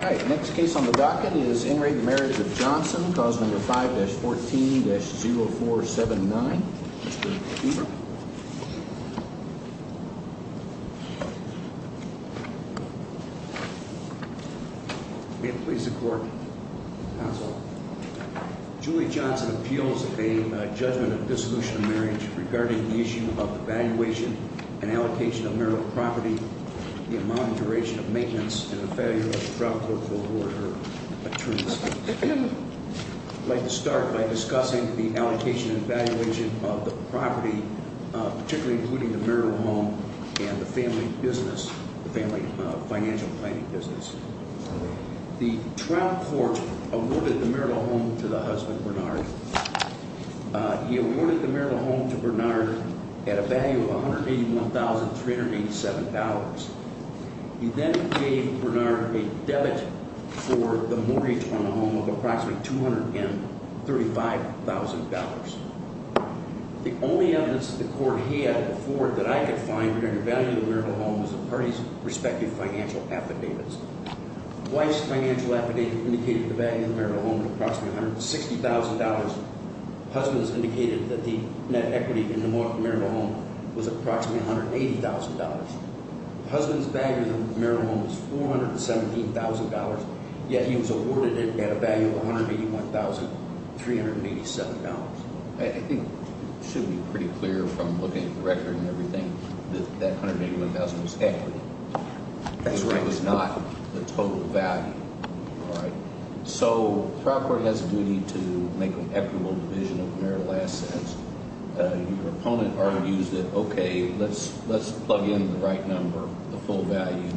All right, next case on the docket is In re Marriage of Johnson. Clause number 5-14-0479. May it please the court. Julie Johnson appeals a judgment of dissolution of marriage regarding the issue of evaluation and allocation of marital property, the amount of duration of maintenance and the failure of the trial court to award her attorneys. I'd like to start by discussing the allocation and evaluation of the property, particularly including the marital home and the family business, the family financial planning business. The trial court awarded the marital home to the husband, Bernard. He awarded the marital home to Bernard at a value of $181,387. He then gave Bernard a debit for the mortgage on the home of approximately $235,000. The only evidence that the court had before that I could find regarding the value of the marital home was the parties' respective financial affidavits. Wife's financial affidavit indicated the value of the marital home was approximately $160,000. Husband's indicated that the net equity in the marital home was approximately $180,000. Husband's value in the marital home was $417,000. Yet he was awarded it at a value of $181,387. I think it should be pretty clear from looking at the record and everything that that $181,000 was equity. That's right. It was not the total value, all right? So trial court has a duty to make an equitable division of marital assets. Your opponent already used it. Okay, let's plug in the right number, the full value.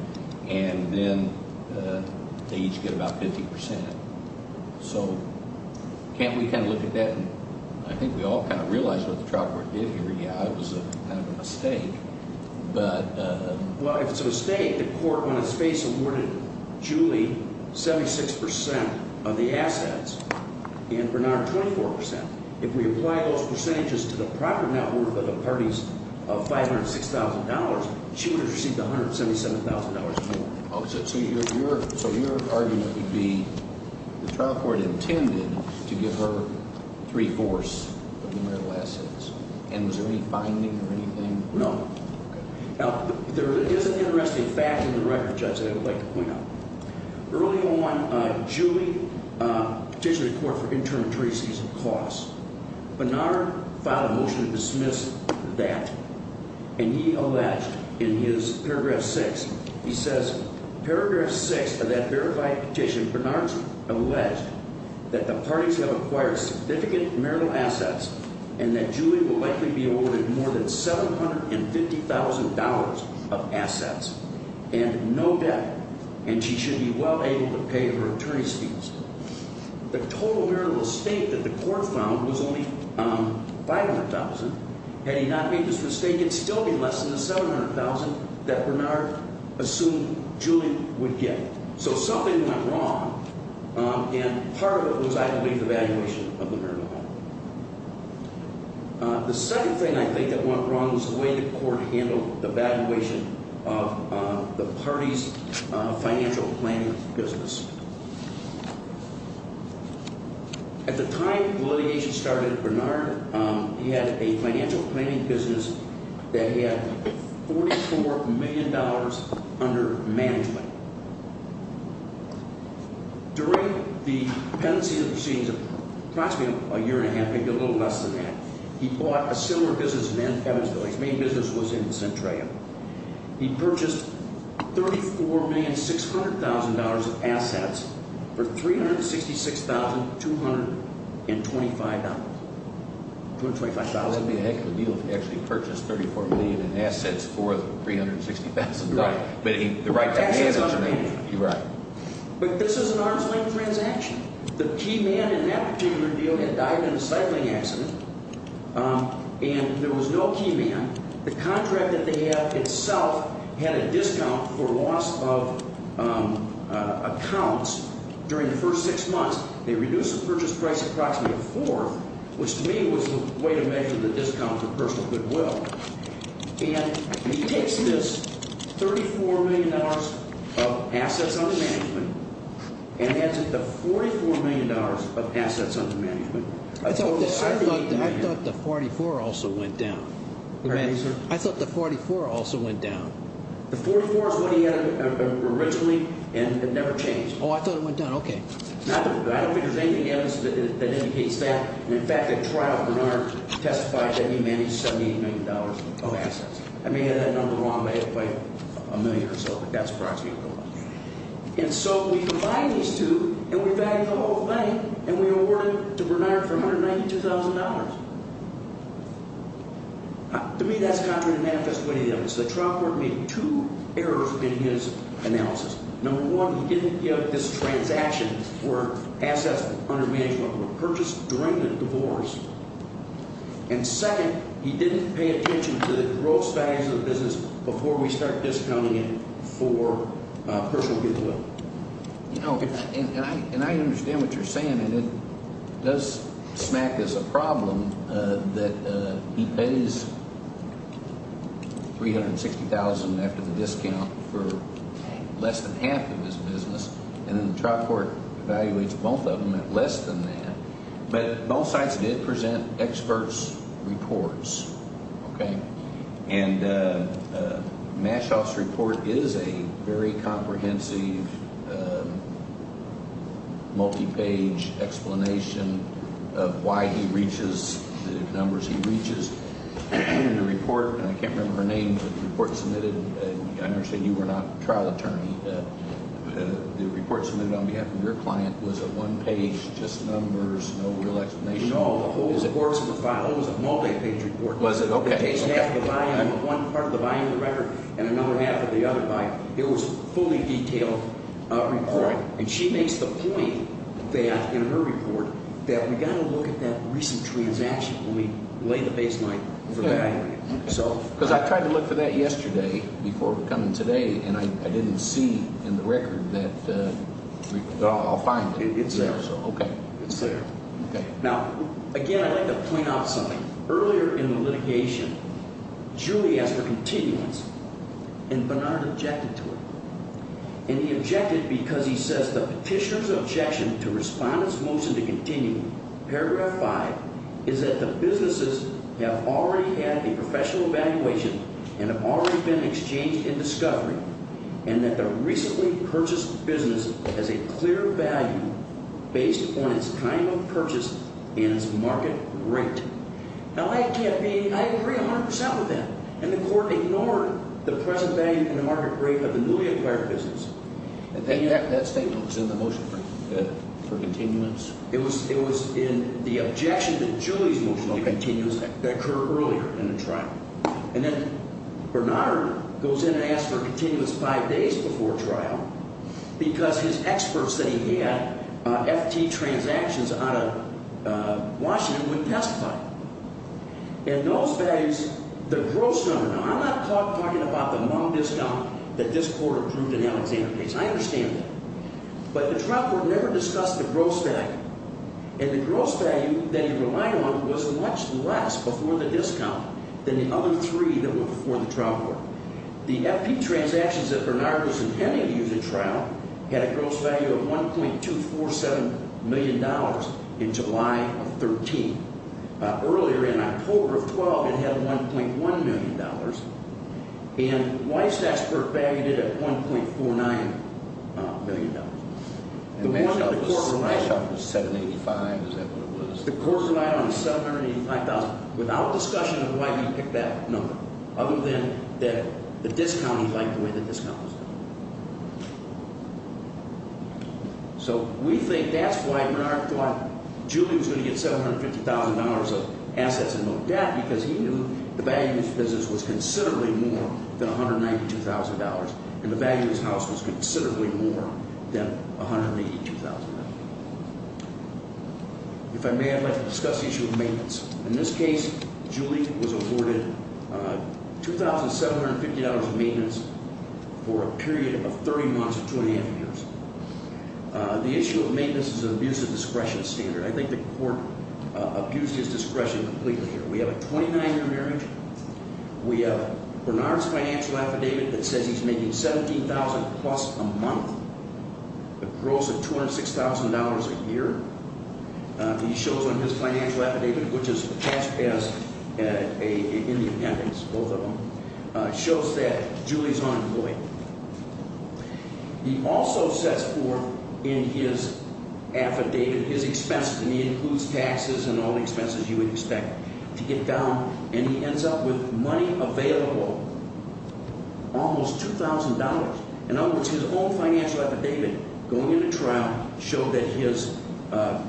And then they each get about 50%. So can't we kind of look at that? And I think we all kind of realize what the trial court did here. Yeah, it was kind of a mistake. Well, if it's a mistake, the court on its face awarded Julie 76% of the assets and Bernard 24%. If we apply those percentages to the proper net worth of the parties of $506,000, she would have received $177,000 more. So your argument would be the trial court intended to give her three-fourths of the marital assets. And was there any finding or anything? No. Now, there is an interesting fact in the record, Judge, that I would like to point out. Early on, Julie petitioned the court for interim treaties of costs. Bernard filed a motion to dismiss that, and he alleged in his paragraph 6, he says, Paragraph 6 of that verified petition, Bernard alleged that the parties have acquired significant marital assets and that Julie will likely be awarded more than $750,000 of assets and no debt. And she should be well able to pay her attorney's fees. The total marital estate that the court found was only $500,000. Had he not made this mistake, it would still be less than the $700,000 that Bernard assumed Julie would get. So something went wrong, and part of it was, I believe, the valuation of the marital home. The second thing I think that went wrong was the way the court handled the valuation of the parties' financial planning business. At the time the litigation started, Bernard, he had a financial planning business that he had $44 million under management. During the pendency proceedings of approximately a year and a half, maybe a little less than that, he bought a similar business in Evansville. His main business was in Centraia. He purchased $34,600,000 of assets for $366,225. That would be a heck of a deal if he actually purchased $34 million in assets for $360,000. But this is an arm's length transaction. The key man in that particular deal had died in a cycling accident, and there was no key man. The contract that they have itself had a discount for loss of accounts during the first six months. They reduced the purchase price approximately a fourth, which to me was the way to measure the discount for personal goodwill. And he takes this $34 million of assets under management and adds it to $44 million of assets under management. I thought the 44 also went down. Pardon me, sir? I thought the 44 also went down. The 44 is what he had originally, and it never changed. Oh, I thought it went down. Okay. I don't think there's anything else that indicates that. And, in fact, at trial, Bernard testified that he managed $78 million of assets. I may have had that number wrong, but it's like a million or so, but that's approximately what it was. And so we combine these two, and we value the whole thing, and we award it to Bernard for $192,000. To me, that's contrary to manifest way to the evidence. The trial court made two errors in his analysis. Number one, he didn't give this transaction where assets under management were purchased during the divorce. And second, he didn't pay attention to the gross values of the business before we started discounting it for personal goodwill. You know, and I understand what you're saying, and it does smack as a problem that he pays $360,000 after the discount for less than half of his business, and then the trial court evaluates both of them at less than that. But both sites did present experts' reports, okay? And Mashoff's report is a very comprehensive, multi-page explanation of why he reaches the numbers he reaches. In the report, and I can't remember her name, but the report submitted, and I understand you were not a trial attorney, the report submitted on behalf of your client was a one-page, just numbers, no real explanation. It was a multi-page report. It takes half of the buy-in of one part of the buy-in of the record and another half of the other buy-in. It was a fully detailed report. And she makes the point that, in her report, that we've got to look at that recent transaction when we lay the baseline for that. Because I tried to look for that yesterday before coming today, and I didn't see in the record that report. I'll find it. It's there. Okay. Now, again, I'd like to point out something. Earlier in the litigation, Julie asked for continuance, and Bernard objected to it. And he objected because he says the petitioner's objection to Respondent's motion to continue, paragraph 5, is that the businesses have already had a professional evaluation and have already been exchanged in discovery, and that the recently purchased business has a clear value based on its time of purchase and its market rate. Now, I can't be—I agree 100 percent with that. And the court ignored the present value and the market rate of the newly acquired business. That statement was in the motion for continuance. It was in the objection to Julie's motion on continuance that occurred earlier in the trial. And then Bernard goes in and asks for continuance five days before trial because his experts that he had, FT transactions out of Washington, wouldn't testify. And those values, the gross number—now, I'm not talking about the long discount that this court approved in Alexander Case. I understand that. But the trial court never discussed the gross value. And the gross value that he relied on was much less before the discount than the other three that went before the trial court. The FT transactions that Bernard was intending to use at trial had a gross value of $1.247 million in July of 13. Earlier, in October of 12, it had $1.1 million. And Weiss' expert valued it at $1.49 million. And Metschoff was $785. Is that what it was? The court relied on $785,000. Without discussion of why he picked that number, other than that the discount he liked the way the discount was done. So we think that's why Bernard thought Julie was going to get $750,000 of assets and no debt because he knew the value of his business was considerably more than $192,000, and the value of his house was considerably more than $182,000. If I may, I'd like to discuss the issue of maintenance. In this case, Julie was awarded $2,750 of maintenance for a period of 30 months to 20 years. The issue of maintenance is an abuse of discretion standard. I think the court abused his discretion completely here. We have a 29-year marriage. We have Bernard's financial affidavit that says he's making $17,000-plus a month, a gross of $206,000 a year. He shows on his financial affidavit, which is attached as in the appendix, both of them, shows that Julie's unemployed. He also sets forth in his affidavit his expenses, and he includes taxes and all the expenses you would expect to get down, and he ends up with money available, almost $2,000. In other words, his own financial affidavit, going into trial, showed that his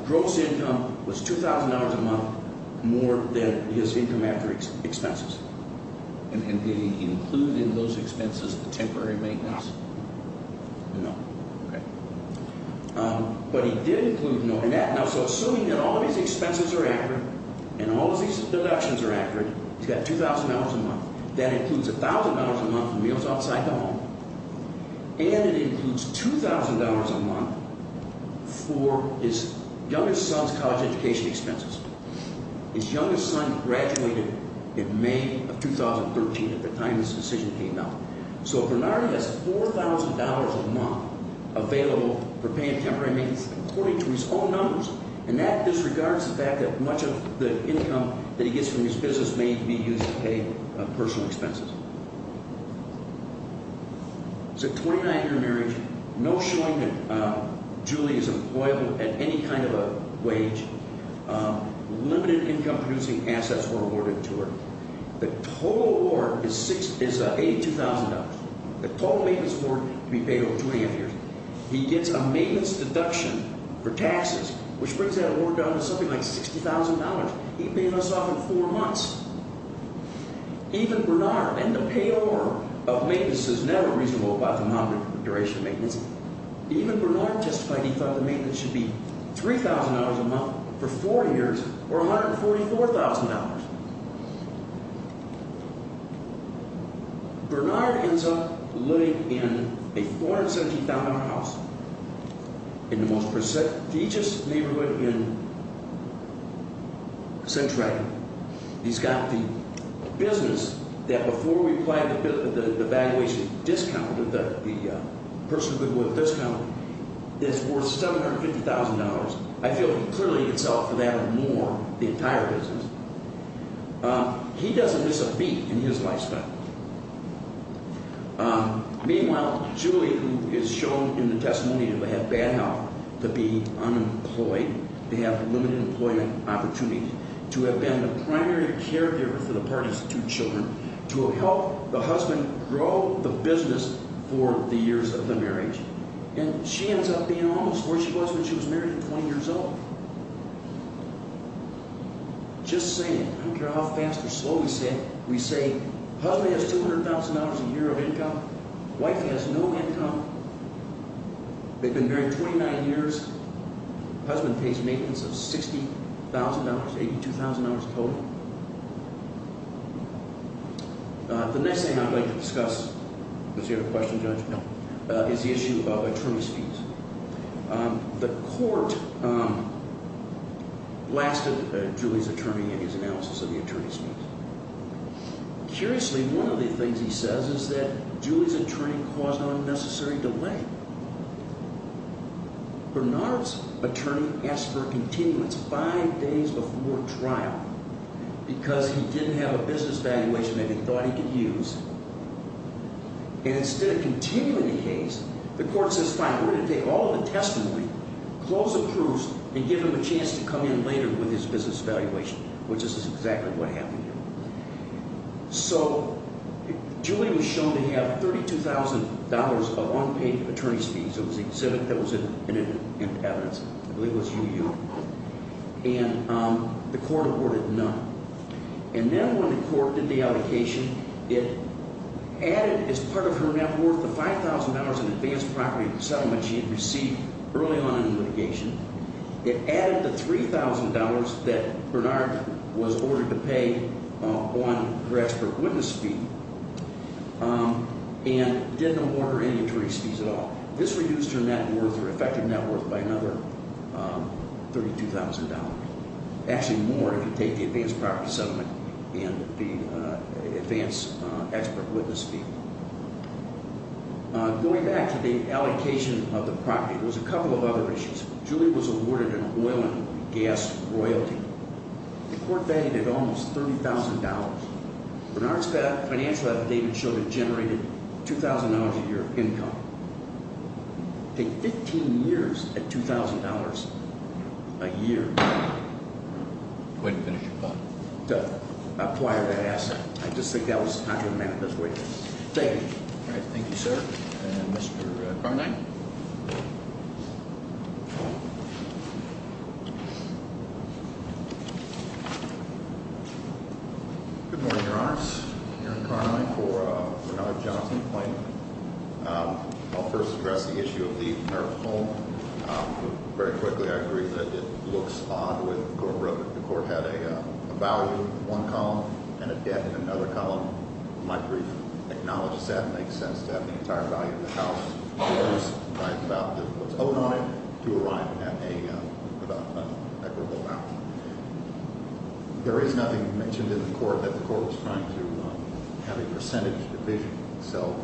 gross income was $2,000 a month, more than his income after expenses. And did he include in those expenses the temporary maintenance? No. Okay. But he did include no in that. Now, so assuming that all of these expenses are accurate and all of these deductions are accurate, he's got $2,000 a month. That includes $1,000 a month for meals outside the home, and it includes $2,000 a month for his youngest son's college education expenses. His youngest son graduated in May of 2013 at the time this decision came out. So Bernardi has $4,000 a month available for paying temporary maintenance according to his own numbers, and that disregards the fact that much of the income that he gets from his business may be used to pay personal expenses. So 29-year marriage, no showing that Julie is employable at any kind of a wage, limited income-producing assets were awarded to her. The total award is $82,000. The total maintenance award to be paid over 29 years. He gets a maintenance deduction for taxes, which brings that award down to something like $60,000. He paid us off in four months. Even Bernard, and the payor of maintenance is never reasonable about the nominal duration of maintenance. Bernard ends up living in a $470,000 house in the most prestigious neighborhood in Centralia. He's got the business that before we applied the valuation discount, the personal goodwill discount, is worth $750,000. I feel he clearly can sell for that or more, the entire business. He doesn't miss a beat in his life span. Meanwhile, Julie, who is shown in the testimony to have bad health, to be unemployed, to have limited employment opportunities, to have been the primary caregiver for the partner's two children, to have helped the husband grow the business for the years of the marriage. She ends up being almost where she was when she was married at 20 years old. Just saying, I don't care how fast or slow we say it, we say husband has $200,000 a year of income, wife has no income, they've been married 29 years, husband pays maintenance of $60,000, $82,000 total. The next thing I'd like to discuss, does he have a question, Judge? No. Is the issue of attorney's fees. The court blasted Julie's attorney in his analysis of the attorney's fees. Curiously, one of the things he says is that Julie's attorney caused unnecessary delay. Bernard's attorney asked for a continuance five days before trial because he didn't have a business valuation that he thought he could use. Instead of continuing the case, the court says, fine, we're going to take all of the testimony, close the proofs, and give him a chance to come in later with his business valuation, which is exactly what happened here. So Julie was shown to have $32,000 of unpaid attorney's fees. It was $7,000 in evidence. I believe it was UU. And the court awarded none. And then when the court did the allocation, it added as part of her net worth the $5,000 in advanced property settlement she had received early on in the litigation. It added the $3,000 that Bernard was ordered to pay on her expert witness fee and didn't award her any attorney's fees at all. This reduced her net worth, her effective net worth, by another $32,000, actually more if you take the advanced property settlement and the advanced expert witness fee. Going back to the allocation of the property, there was a couple of other issues. Julie was awarded an oil and gas royalty. The court valued it almost $30,000. Bernard's financial evidence showed it generated $2,000 a year of income. Take 15 years at $2,000 a year. Go ahead and finish your part. Go. Acquire that asset. I just think that was not dramatic. Let's wait. Thank you. All right. Thank you, sir. And Mr. Carnine. Good morning, Your Honors. Aaron Carnine for Bernard Johnson Plaintiff. I'll first address the issue of the home. Very quickly, I agree that it looks odd. The court had a value in one column and a debt in another column. My brief acknowledges that. It makes sense to have the entire value of the house. It was about what's owed on it to arrive at an equitable amount. There is nothing mentioned in the court that the court was trying to have a percentage division. So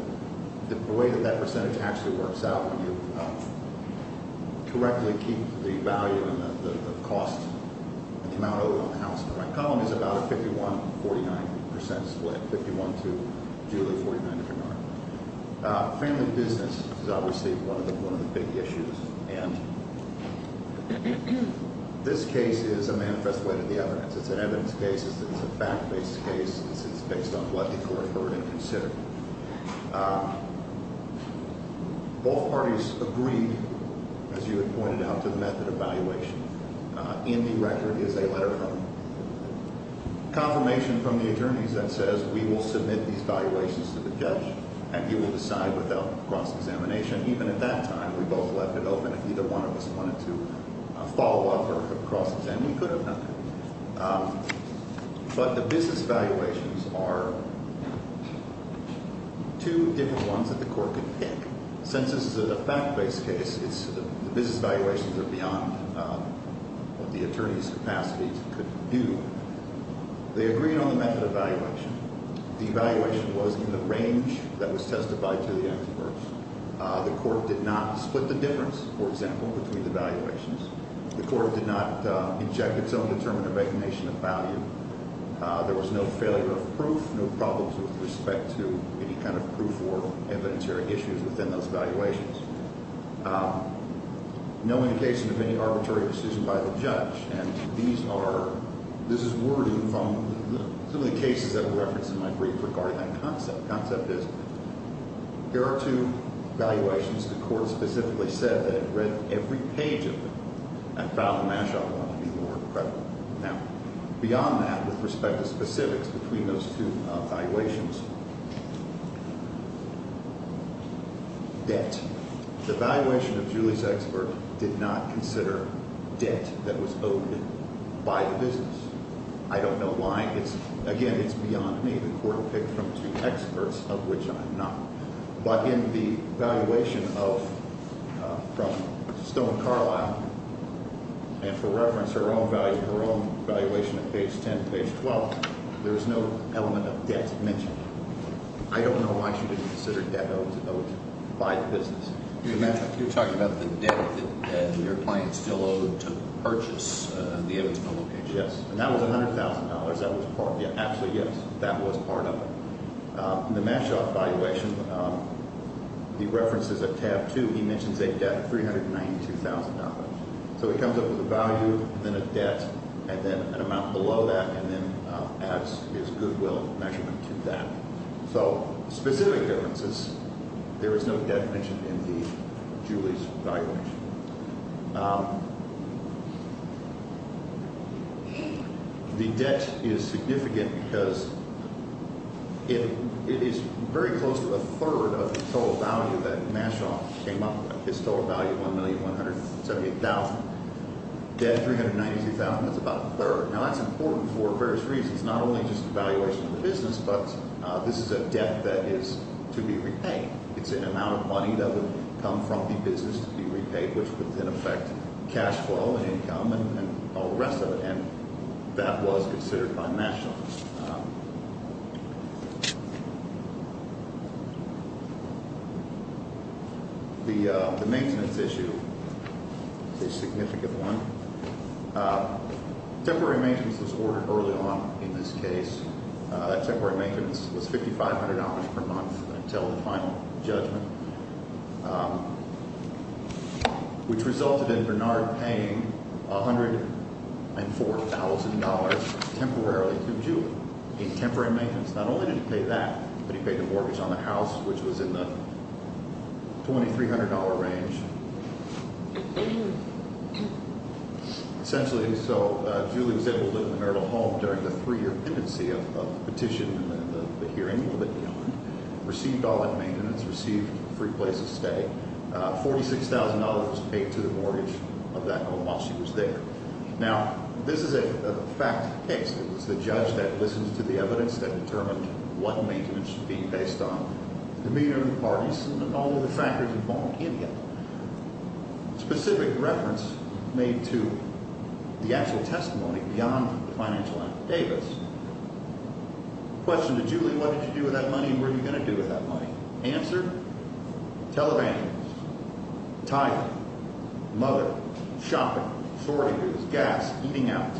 the way that that percentage actually works out, when you correctly keep the value and the cost, the amount owed on the house in the right column is about a 51-49% split. 51-49. Family business is obviously one of the big issues. And this case is a manifest way to the evidence. It's an evidence case. It's a fact-based case. It's based on what the court heard and considered. Both parties agreed, as you had pointed out, to the method of valuation. In the record is a letter from confirmation from the attorneys that says, We will submit these valuations to the judge, and he will decide without cross-examination. Even at that time, we both left it open. If either one of us wanted to follow up or cross-examine, we could have done that. But the business valuations are two different ones that the court could pick. Since this is a fact-based case, the business valuations are beyond what the attorney's capacity could do. They agreed on the method of valuation. The valuation was in the range that was testified to the experts. The court did not split the difference, for example, between the valuations. The court did not inject its own determination of value. There was no failure of proof, no problems with respect to any kind of proof or evidentiary issues within those valuations. No indication of any arbitrary decision by the judge. And this is wording from some of the cases that were referenced in my brief regarding that concept. The concept is, there are two valuations the court specifically said that it read every page of. And Fowler-Mashaw wanted to be more credible. Now, beyond that, with respect to specifics between those two valuations, debt. The valuation of Julie's expert did not consider debt that was owed by the business. I don't know why. Again, it's beyond me. The court will pick from two experts, of which I'm not. But in the valuation from Stone-Carlyle, and for reference, her own valuation at page 10, page 12, there is no element of debt mentioned. I don't know why she didn't consider debt that was owed by the business. You're talking about the debt that your client still owed to purchase the Evans Publicage. Yes. And that was $100,000. That was part of it. Actually, yes. That was part of it. In the Mashaw valuation, he references at tab 2, he mentions a debt of $392,000. So he comes up with a value, then a debt, and then an amount below that, and then adds his goodwill measurement to that. So specific differences, there is no debt mentioned in the Julie's valuation. The debt is significant because it is very close to a third of the total value that Mashaw came up with. His total value, $1,178,000. Debt, $392,000. That's about a third. Now, that's important for various reasons, not only just the valuation of the business, but this is a debt that is to be repaid. It's an amount of money that would come from the business to be repaid, which would then affect cash flow and income and all the rest of it. And that was considered by Mashaw. The maintenance issue is a significant one. Temporary maintenance was ordered early on in this case. That temporary maintenance was $5,500 per month until the final judgment, which resulted in Bernard paying $104,000 temporarily to Julie in temporary maintenance. Not only did he pay that, but he paid the mortgage on the house, which was in the $2,300 range. Essentially, so Julie was able to live in a mortal home during the three-year pendency of the petition and the hearing, received all that maintenance, received a free place to stay. $46,000 was paid to the mortgage of that home while she was there. Now, this is a fact of the case. It was the judge that listened to the evidence that determined what maintenance was being based on, the demeanor of the parties and all of the factors involved in it. Specific reference made to the actual testimony beyond the financial affidavits. Question to Julie, what did you do with that money and what are you going to do with that money? Answer, televandals, tire, mother, shopping, sorting goods, gas, eating out,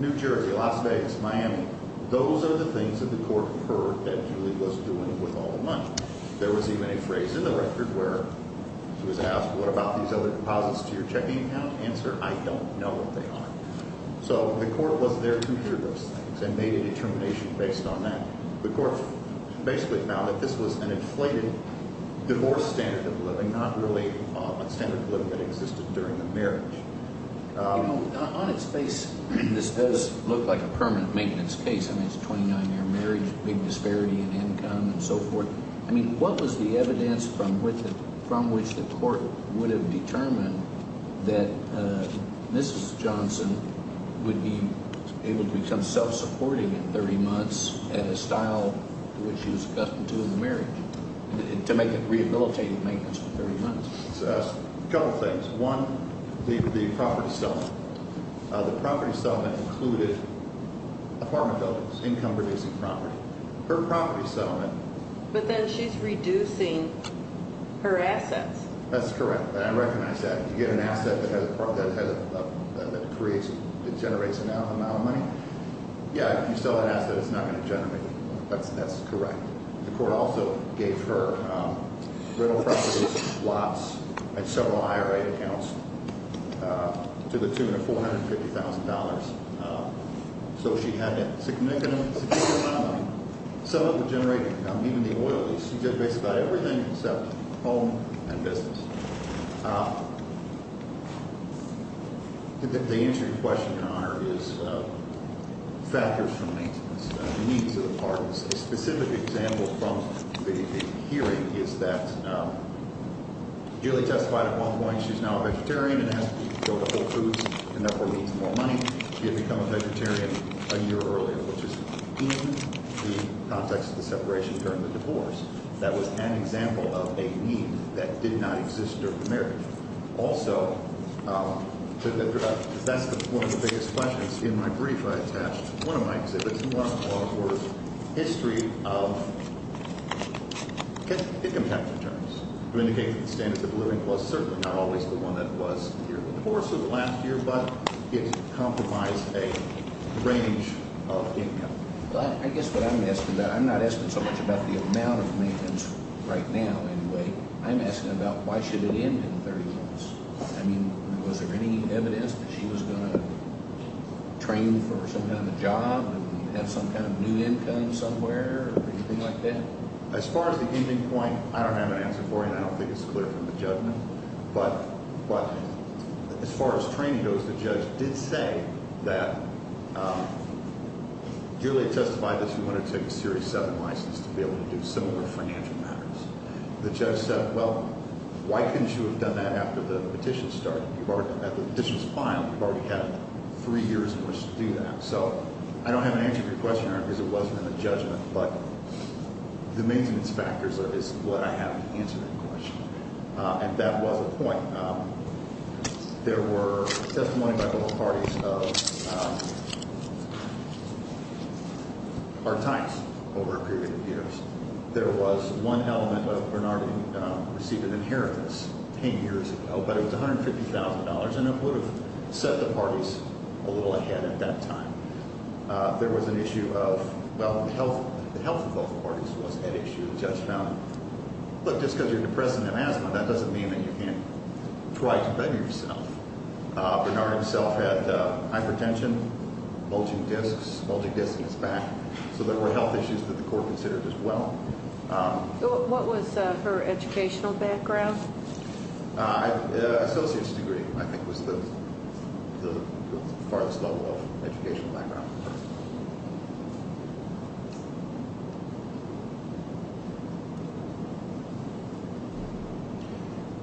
New Jersey, Las Vegas, Miami. Those are the things that the court heard that Julie was doing with all the money. There was even a phrase in the record where she was asked, what about these other deposits to your checking account? Answer, I don't know what they are. So the court was there to hear those things and made a determination based on that. The court basically found that this was an inflated divorce standard of living, not really a standard of living that existed during the marriage. On its face, this does look like a permanent maintenance case. I mean, it's a 29-year marriage, big disparity in income and so forth. I mean, what was the evidence from which the court would have determined that Mrs. Johnson would be able to become self-supporting in 30 months at a style which she was accustomed to in the marriage to make it rehabilitative maintenance for 30 months? A couple of things. One, the property settlement. The property settlement included apartment buildings, income-producing property. Her property settlement. But then she's reducing her assets. That's correct, and I recognize that. You get an asset that generates an amount of money. Yeah, if you sell that asset, it's not going to generate any money. That's correct. The court also gave her rental properties, lots, and several IRA accounts to the tune of $450,000. So she had a significant amount of money. Some of it would generate even the oil lease. She did basically everything except home and business. The answer to your question, Your Honor, is factors from maintenance, needs of the apartment. A specific example from the hearing is that Julie testified at one point she's now a vegetarian and has to go to Whole Foods and therefore needs more money. She had become a vegetarian a year earlier, which is in the context of the separation during the divorce. That was an example of a need that did not exist during the marriage. Also, that's one of the biggest questions. In my brief, I attached one of my exhibits and one of the court's history of income tax returns. It indicates that the standard of living was certainly not always the one that was in the course of the last year, but it compromised a range of income. I guess what I'm asking about, I'm not asking so much about the amount of maintenance right now anyway. I'm asking about why should it end in 30 months. I mean, was there any evidence that she was going to train for some kind of a job and have some kind of new income somewhere or anything like that? As far as the ending point, I don't have an answer for you and I don't think it's clear from the judgment. But as far as training goes, the judge did say that Julie testified that she wanted to take a Series 7 license to be able to do similar financial matters. The judge said, well, why couldn't you have done that after the petition was filed? You've already had three years in which to do that. So I don't have an answer to your question, Eric, because it wasn't in the judgment. But the maintenance factors is what I have to answer that question. And that was a point. There were testimonies by both parties of hard times over a period of years. There was one element of Bernardine receiving inheritance 10 years ago, but it was $150,000 and it would have set the parties a little ahead at that time. There was an issue of, well, the health of both parties was an issue. The judge found, look, just because you're depressed and in asthma, that doesn't mean that you can't try to better yourself. Bernard himself had hypertension, bulging discs, bulging discs in his back. So there were health issues that the court considered as well. What was her educational background? Associate's degree, I think, was the farthest level of educational background.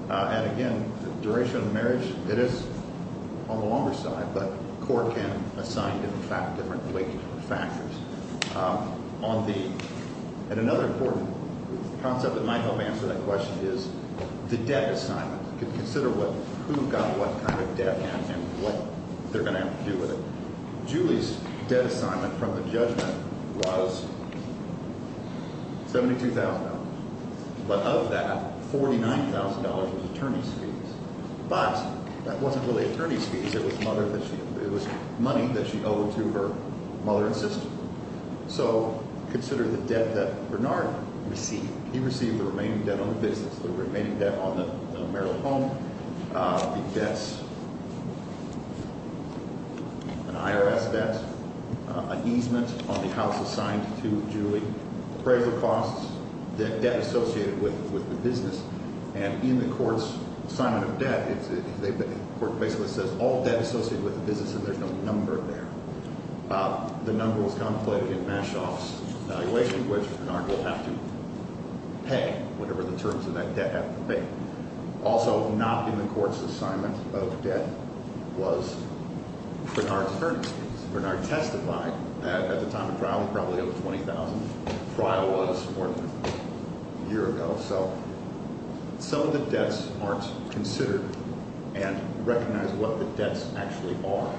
And, again, the duration of the marriage, it is on the longer side, but the court can assign different weight factors. And another important concept that might help answer that question is the debt assignment. Consider who got what kind of debt and what they're going to have to do with it. Julie's debt assignment from the judgment was $72,000. But of that, $49,000 was attorney's fees. But that wasn't really attorney's fees. It was money that she owed to her mother and sister. So consider the debt that Bernard received. He received the remaining debt on the business, the remaining debt on the marital home, the debts, an IRS debt, an easement on the house assigned to Julie, appraisal costs, debt associated with the business. And in the court's assignment of debt, the court basically says all debt associated with the business, and there's no number there. The number was contemplated in Mashoff's evaluation, which Bernard will have to pay whatever the terms of that debt have to pay. Also not in the court's assignment of debt was Bernard's attorney's fees. Bernard testified at the time of trial he probably owed $20,000. The trial was more than a year ago. So some of the debts aren't considered and recognize what the debts actually are.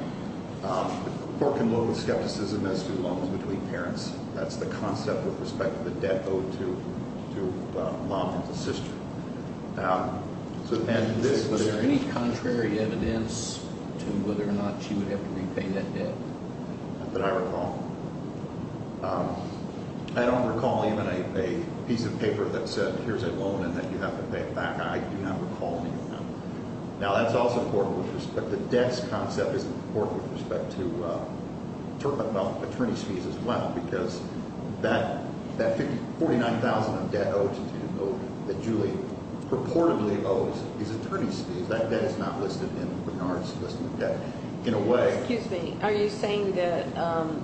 The court can look with skepticism as to loans between parents. That's the concept with respect to the debt owed to mom and to sister. So imagine this. Is there any contrary evidence to whether or not she would have to repay that debt? Not that I recall. I don't recall even a piece of paper that said here's a loan and that you have to pay it back. I do not recall any of that. Now, that's also important with respect to debts. The concept is important with respect to attorney's fees as well because that $49,000 of debt owed to Julie that Julie purportedly owes is attorney's fees. That debt is not listed in Bernard's list of debt. In a way. Excuse me. Are you saying that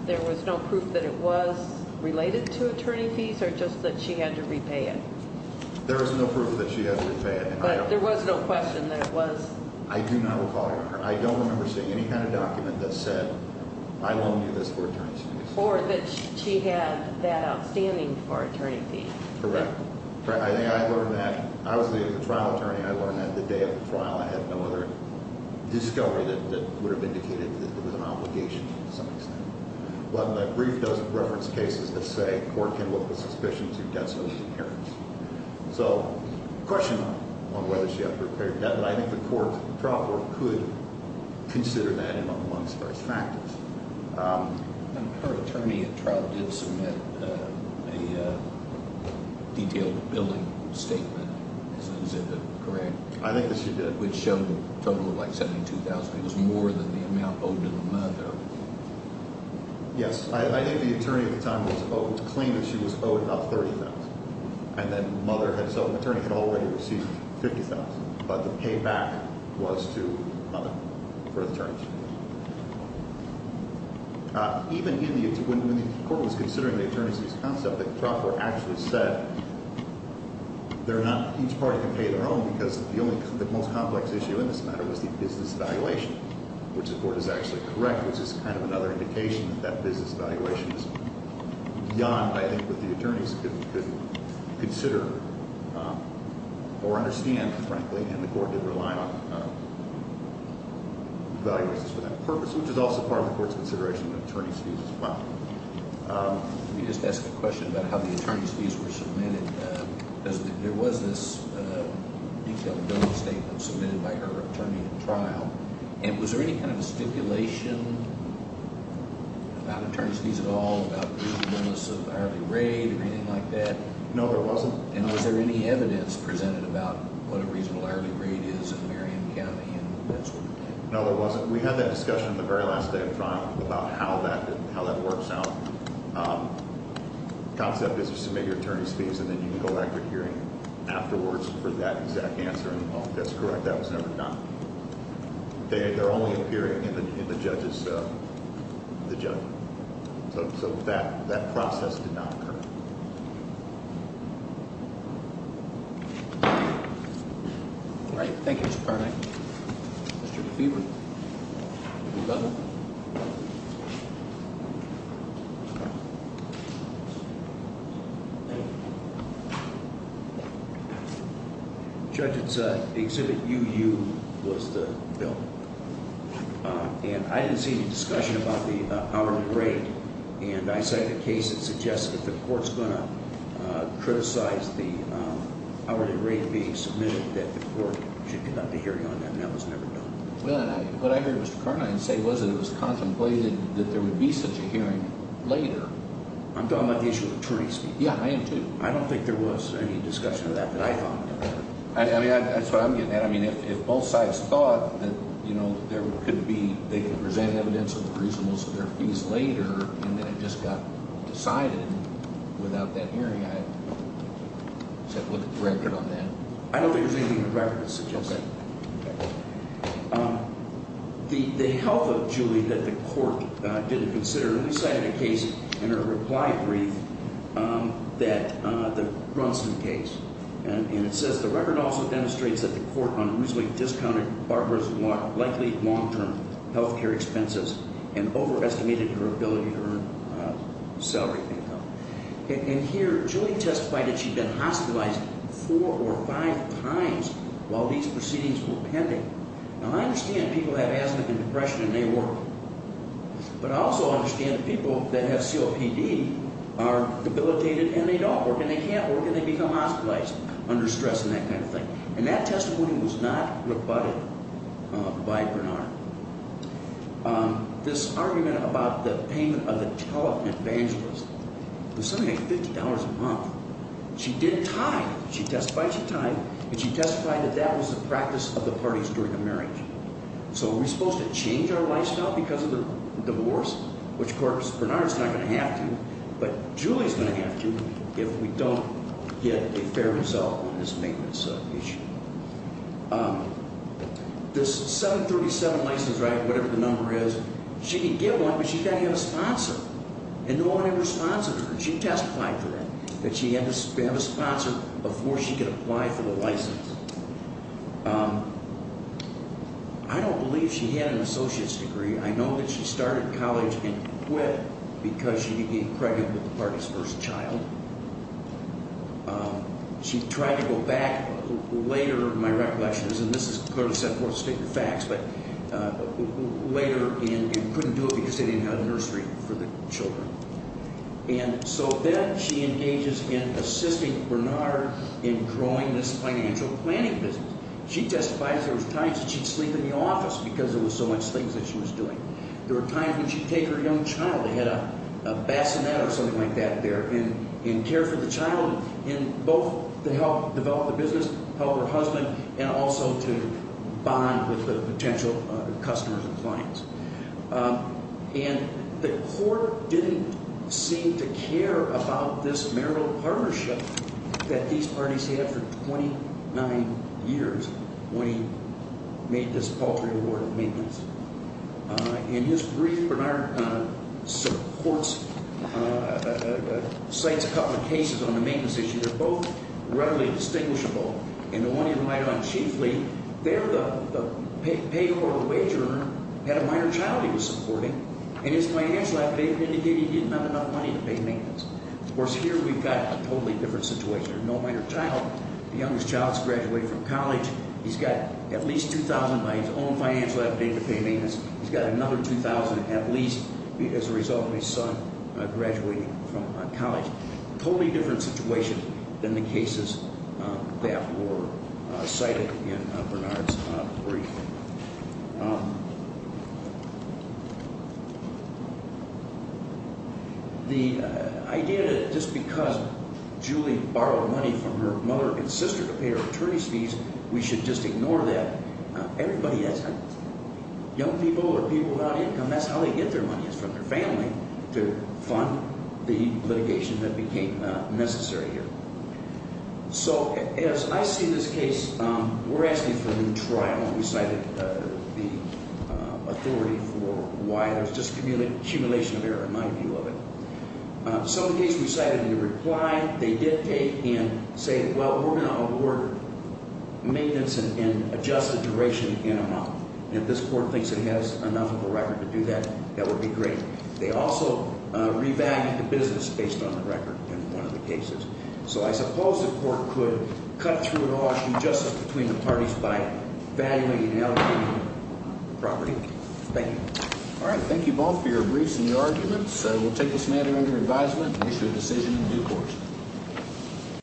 there was no proof that it was related to attorney fees or just that she had to repay it? There was no proof that she had to repay it. But there was no question that it was? I do not recall. I don't remember seeing any kind of document that said I loaned you this for attorney's fees. Or that she had that outstanding for attorney fees. Correct. I think I learned that. I was the trial attorney. I learned that the day of the trial. I had no other discovery that would have indicated that it was an obligation to some extent. But in the brief reference cases that say a court can look at suspicions of debts over the appearance. So, question on whether she had to repay her debt. But I think the trial court could consider that among the various factors. Her attorney at trial did submit a detailed billing statement. Is that correct? I think that she did. Which showed a total of like $72,000. It was more than the amount owed to the mother. Yes. I think the attorney at the time was owed. Claimed that she was owed about $30,000. And then the mother had sold. The attorney had already received $50,000. But the payback was to the mother for the attorneys. Even when the court was considering the attorneys' concept, the trial court actually said each party can pay their own. Because the most complex issue in this matter was the business valuation. Which the court is actually correct. Which is kind of another indication that that business valuation is beyond, I think, what the attorneys could consider or understand, frankly. And the court did rely on valuations for that purpose. Which is also part of the court's consideration of the attorney's fees as well. Let me just ask a question about how the attorney's fees were submitted. Because there was this detailed billing statement submitted by her attorney at trial. And was there any kind of stipulation about attorney's fees at all, about the reasonableness of hourly rate or anything like that? No, there wasn't. And was there any evidence presented about what a reasonable hourly rate is in Marion County and that sort of thing? No, there wasn't. We had that discussion on the very last day of trial about how that works out. The concept is to submit your attorney's fees and then you can go back to hearing afterwards for that exact answer. And, oh, that's correct. That was never done. They're only appearing in the judge's, the judge. So that process did not occur. All right. Thank you, Mr. Karnak. Mr. Beaver. Thank you, Governor. Judge, it's the Exhibit UU was the bill. And I didn't see any discussion about the hourly rate. And I cited a case that suggested that the court's going to criticize the hourly rate being submitted that the court should conduct a hearing on that, and that was never done. Well, what I heard Mr. Karnak say was that it was contemplated that there would be such a hearing later. I'm talking about the issue of attorney's fees. Yeah, I am, too. I don't think there was any discussion of that that I thought occurred. I mean, that's what I'm getting at. I mean, if both sides thought that, you know, there could be, they could present evidence of the reasonableness of their fees later and that it just got decided without that hearing, I would set forth a record on that. I don't think there's anything in the record that suggests that. Okay. The health of Julie that the court didn't consider, and we cited a case in our reply brief that, the Brunson case. And it says the record also demonstrates that the court unruly discounted Barbara's likely long-term health care expenses and overestimated her ability to earn salary income. And here, Julie testified that she'd been hospitalized four or five times while these proceedings were pending. Now, I understand people have asthma and depression and they work. But I also understand that people that have COPD are debilitated and they don't work and they can't work and they become hospitalized under stress and that kind of thing. And that testimony was not rebutted by Bernard. This argument about the payment of the tele-evangelist was something like $50 a month. She did tithe. She testified she tithed, and she testified that that was the practice of the parties during a marriage. So are we supposed to change our lifestyle because of the divorce? Which, of course, Bernard's not going to have to, but Julie's going to have to if we don't get a fair result on this maintenance issue. This 737 license, right, whatever the number is, she can get one, but she's got to get a sponsor. And no one ever sponsored her. She testified to that, that she had to have a sponsor before she could apply for the license. I don't believe she had an associate's degree. I know that she started college and quit because she became pregnant with the party's first child. She tried to go back later, my recollection is, and this is clearly set forth in the facts, but later and couldn't do it because they didn't have a nursery for the children. And so then she engages in assisting Bernard in growing this financial planning business. She testified there was times that she'd sleep in the office because there was so much things that she was doing. There were times when she'd take her young child, they had a bassinet or something like that there, and care for the child in both to help develop the business, help her husband, and also to bond with the potential customers and clients. And the court didn't seem to care about this marital partnership that these parties had for 29 years when he made this paltry reward of maintenance. In his brief, Bernard supports, cites a couple of cases on the maintenance issue. They're both readily distinguishable. In the one he reminded on chiefly, there the pay for a wage earner had a minor child he was supporting, and his financial affidavit indicated he didn't have enough money to pay maintenance. Of course, here we've got a totally different situation. There's no minor child. The youngest child's graduated from college. He's got at least $2,000 by his own financial affidavit to pay maintenance. He's got another $2,000 at least as a result of his son graduating from college. Totally different situation than the cases that were cited in Bernard's brief. The idea that just because Julie borrowed money from her mother and sister to pay her attorney's fees, we should just ignore that. Young people are people without income. That's how they get their money is from their family to fund the litigation that became necessary here. So as I see this case, we're asking for a new trial. We cited the authority for why there's just an accumulation of error in my view of it. Some of the cases we cited in the reply, they did take and say, Well, we're going to award maintenance and adjusted duration in a month. If this court thinks it has enough of a record to do that, that would be great. They also revalued the business based on the record in one of the cases. So I suppose the court could cut through it all and do justice between the parties by valuing and allocating property. Thank you. All right. Thank you both for your briefs and your arguments. We'll take this matter under advisement and issue a decision in due course.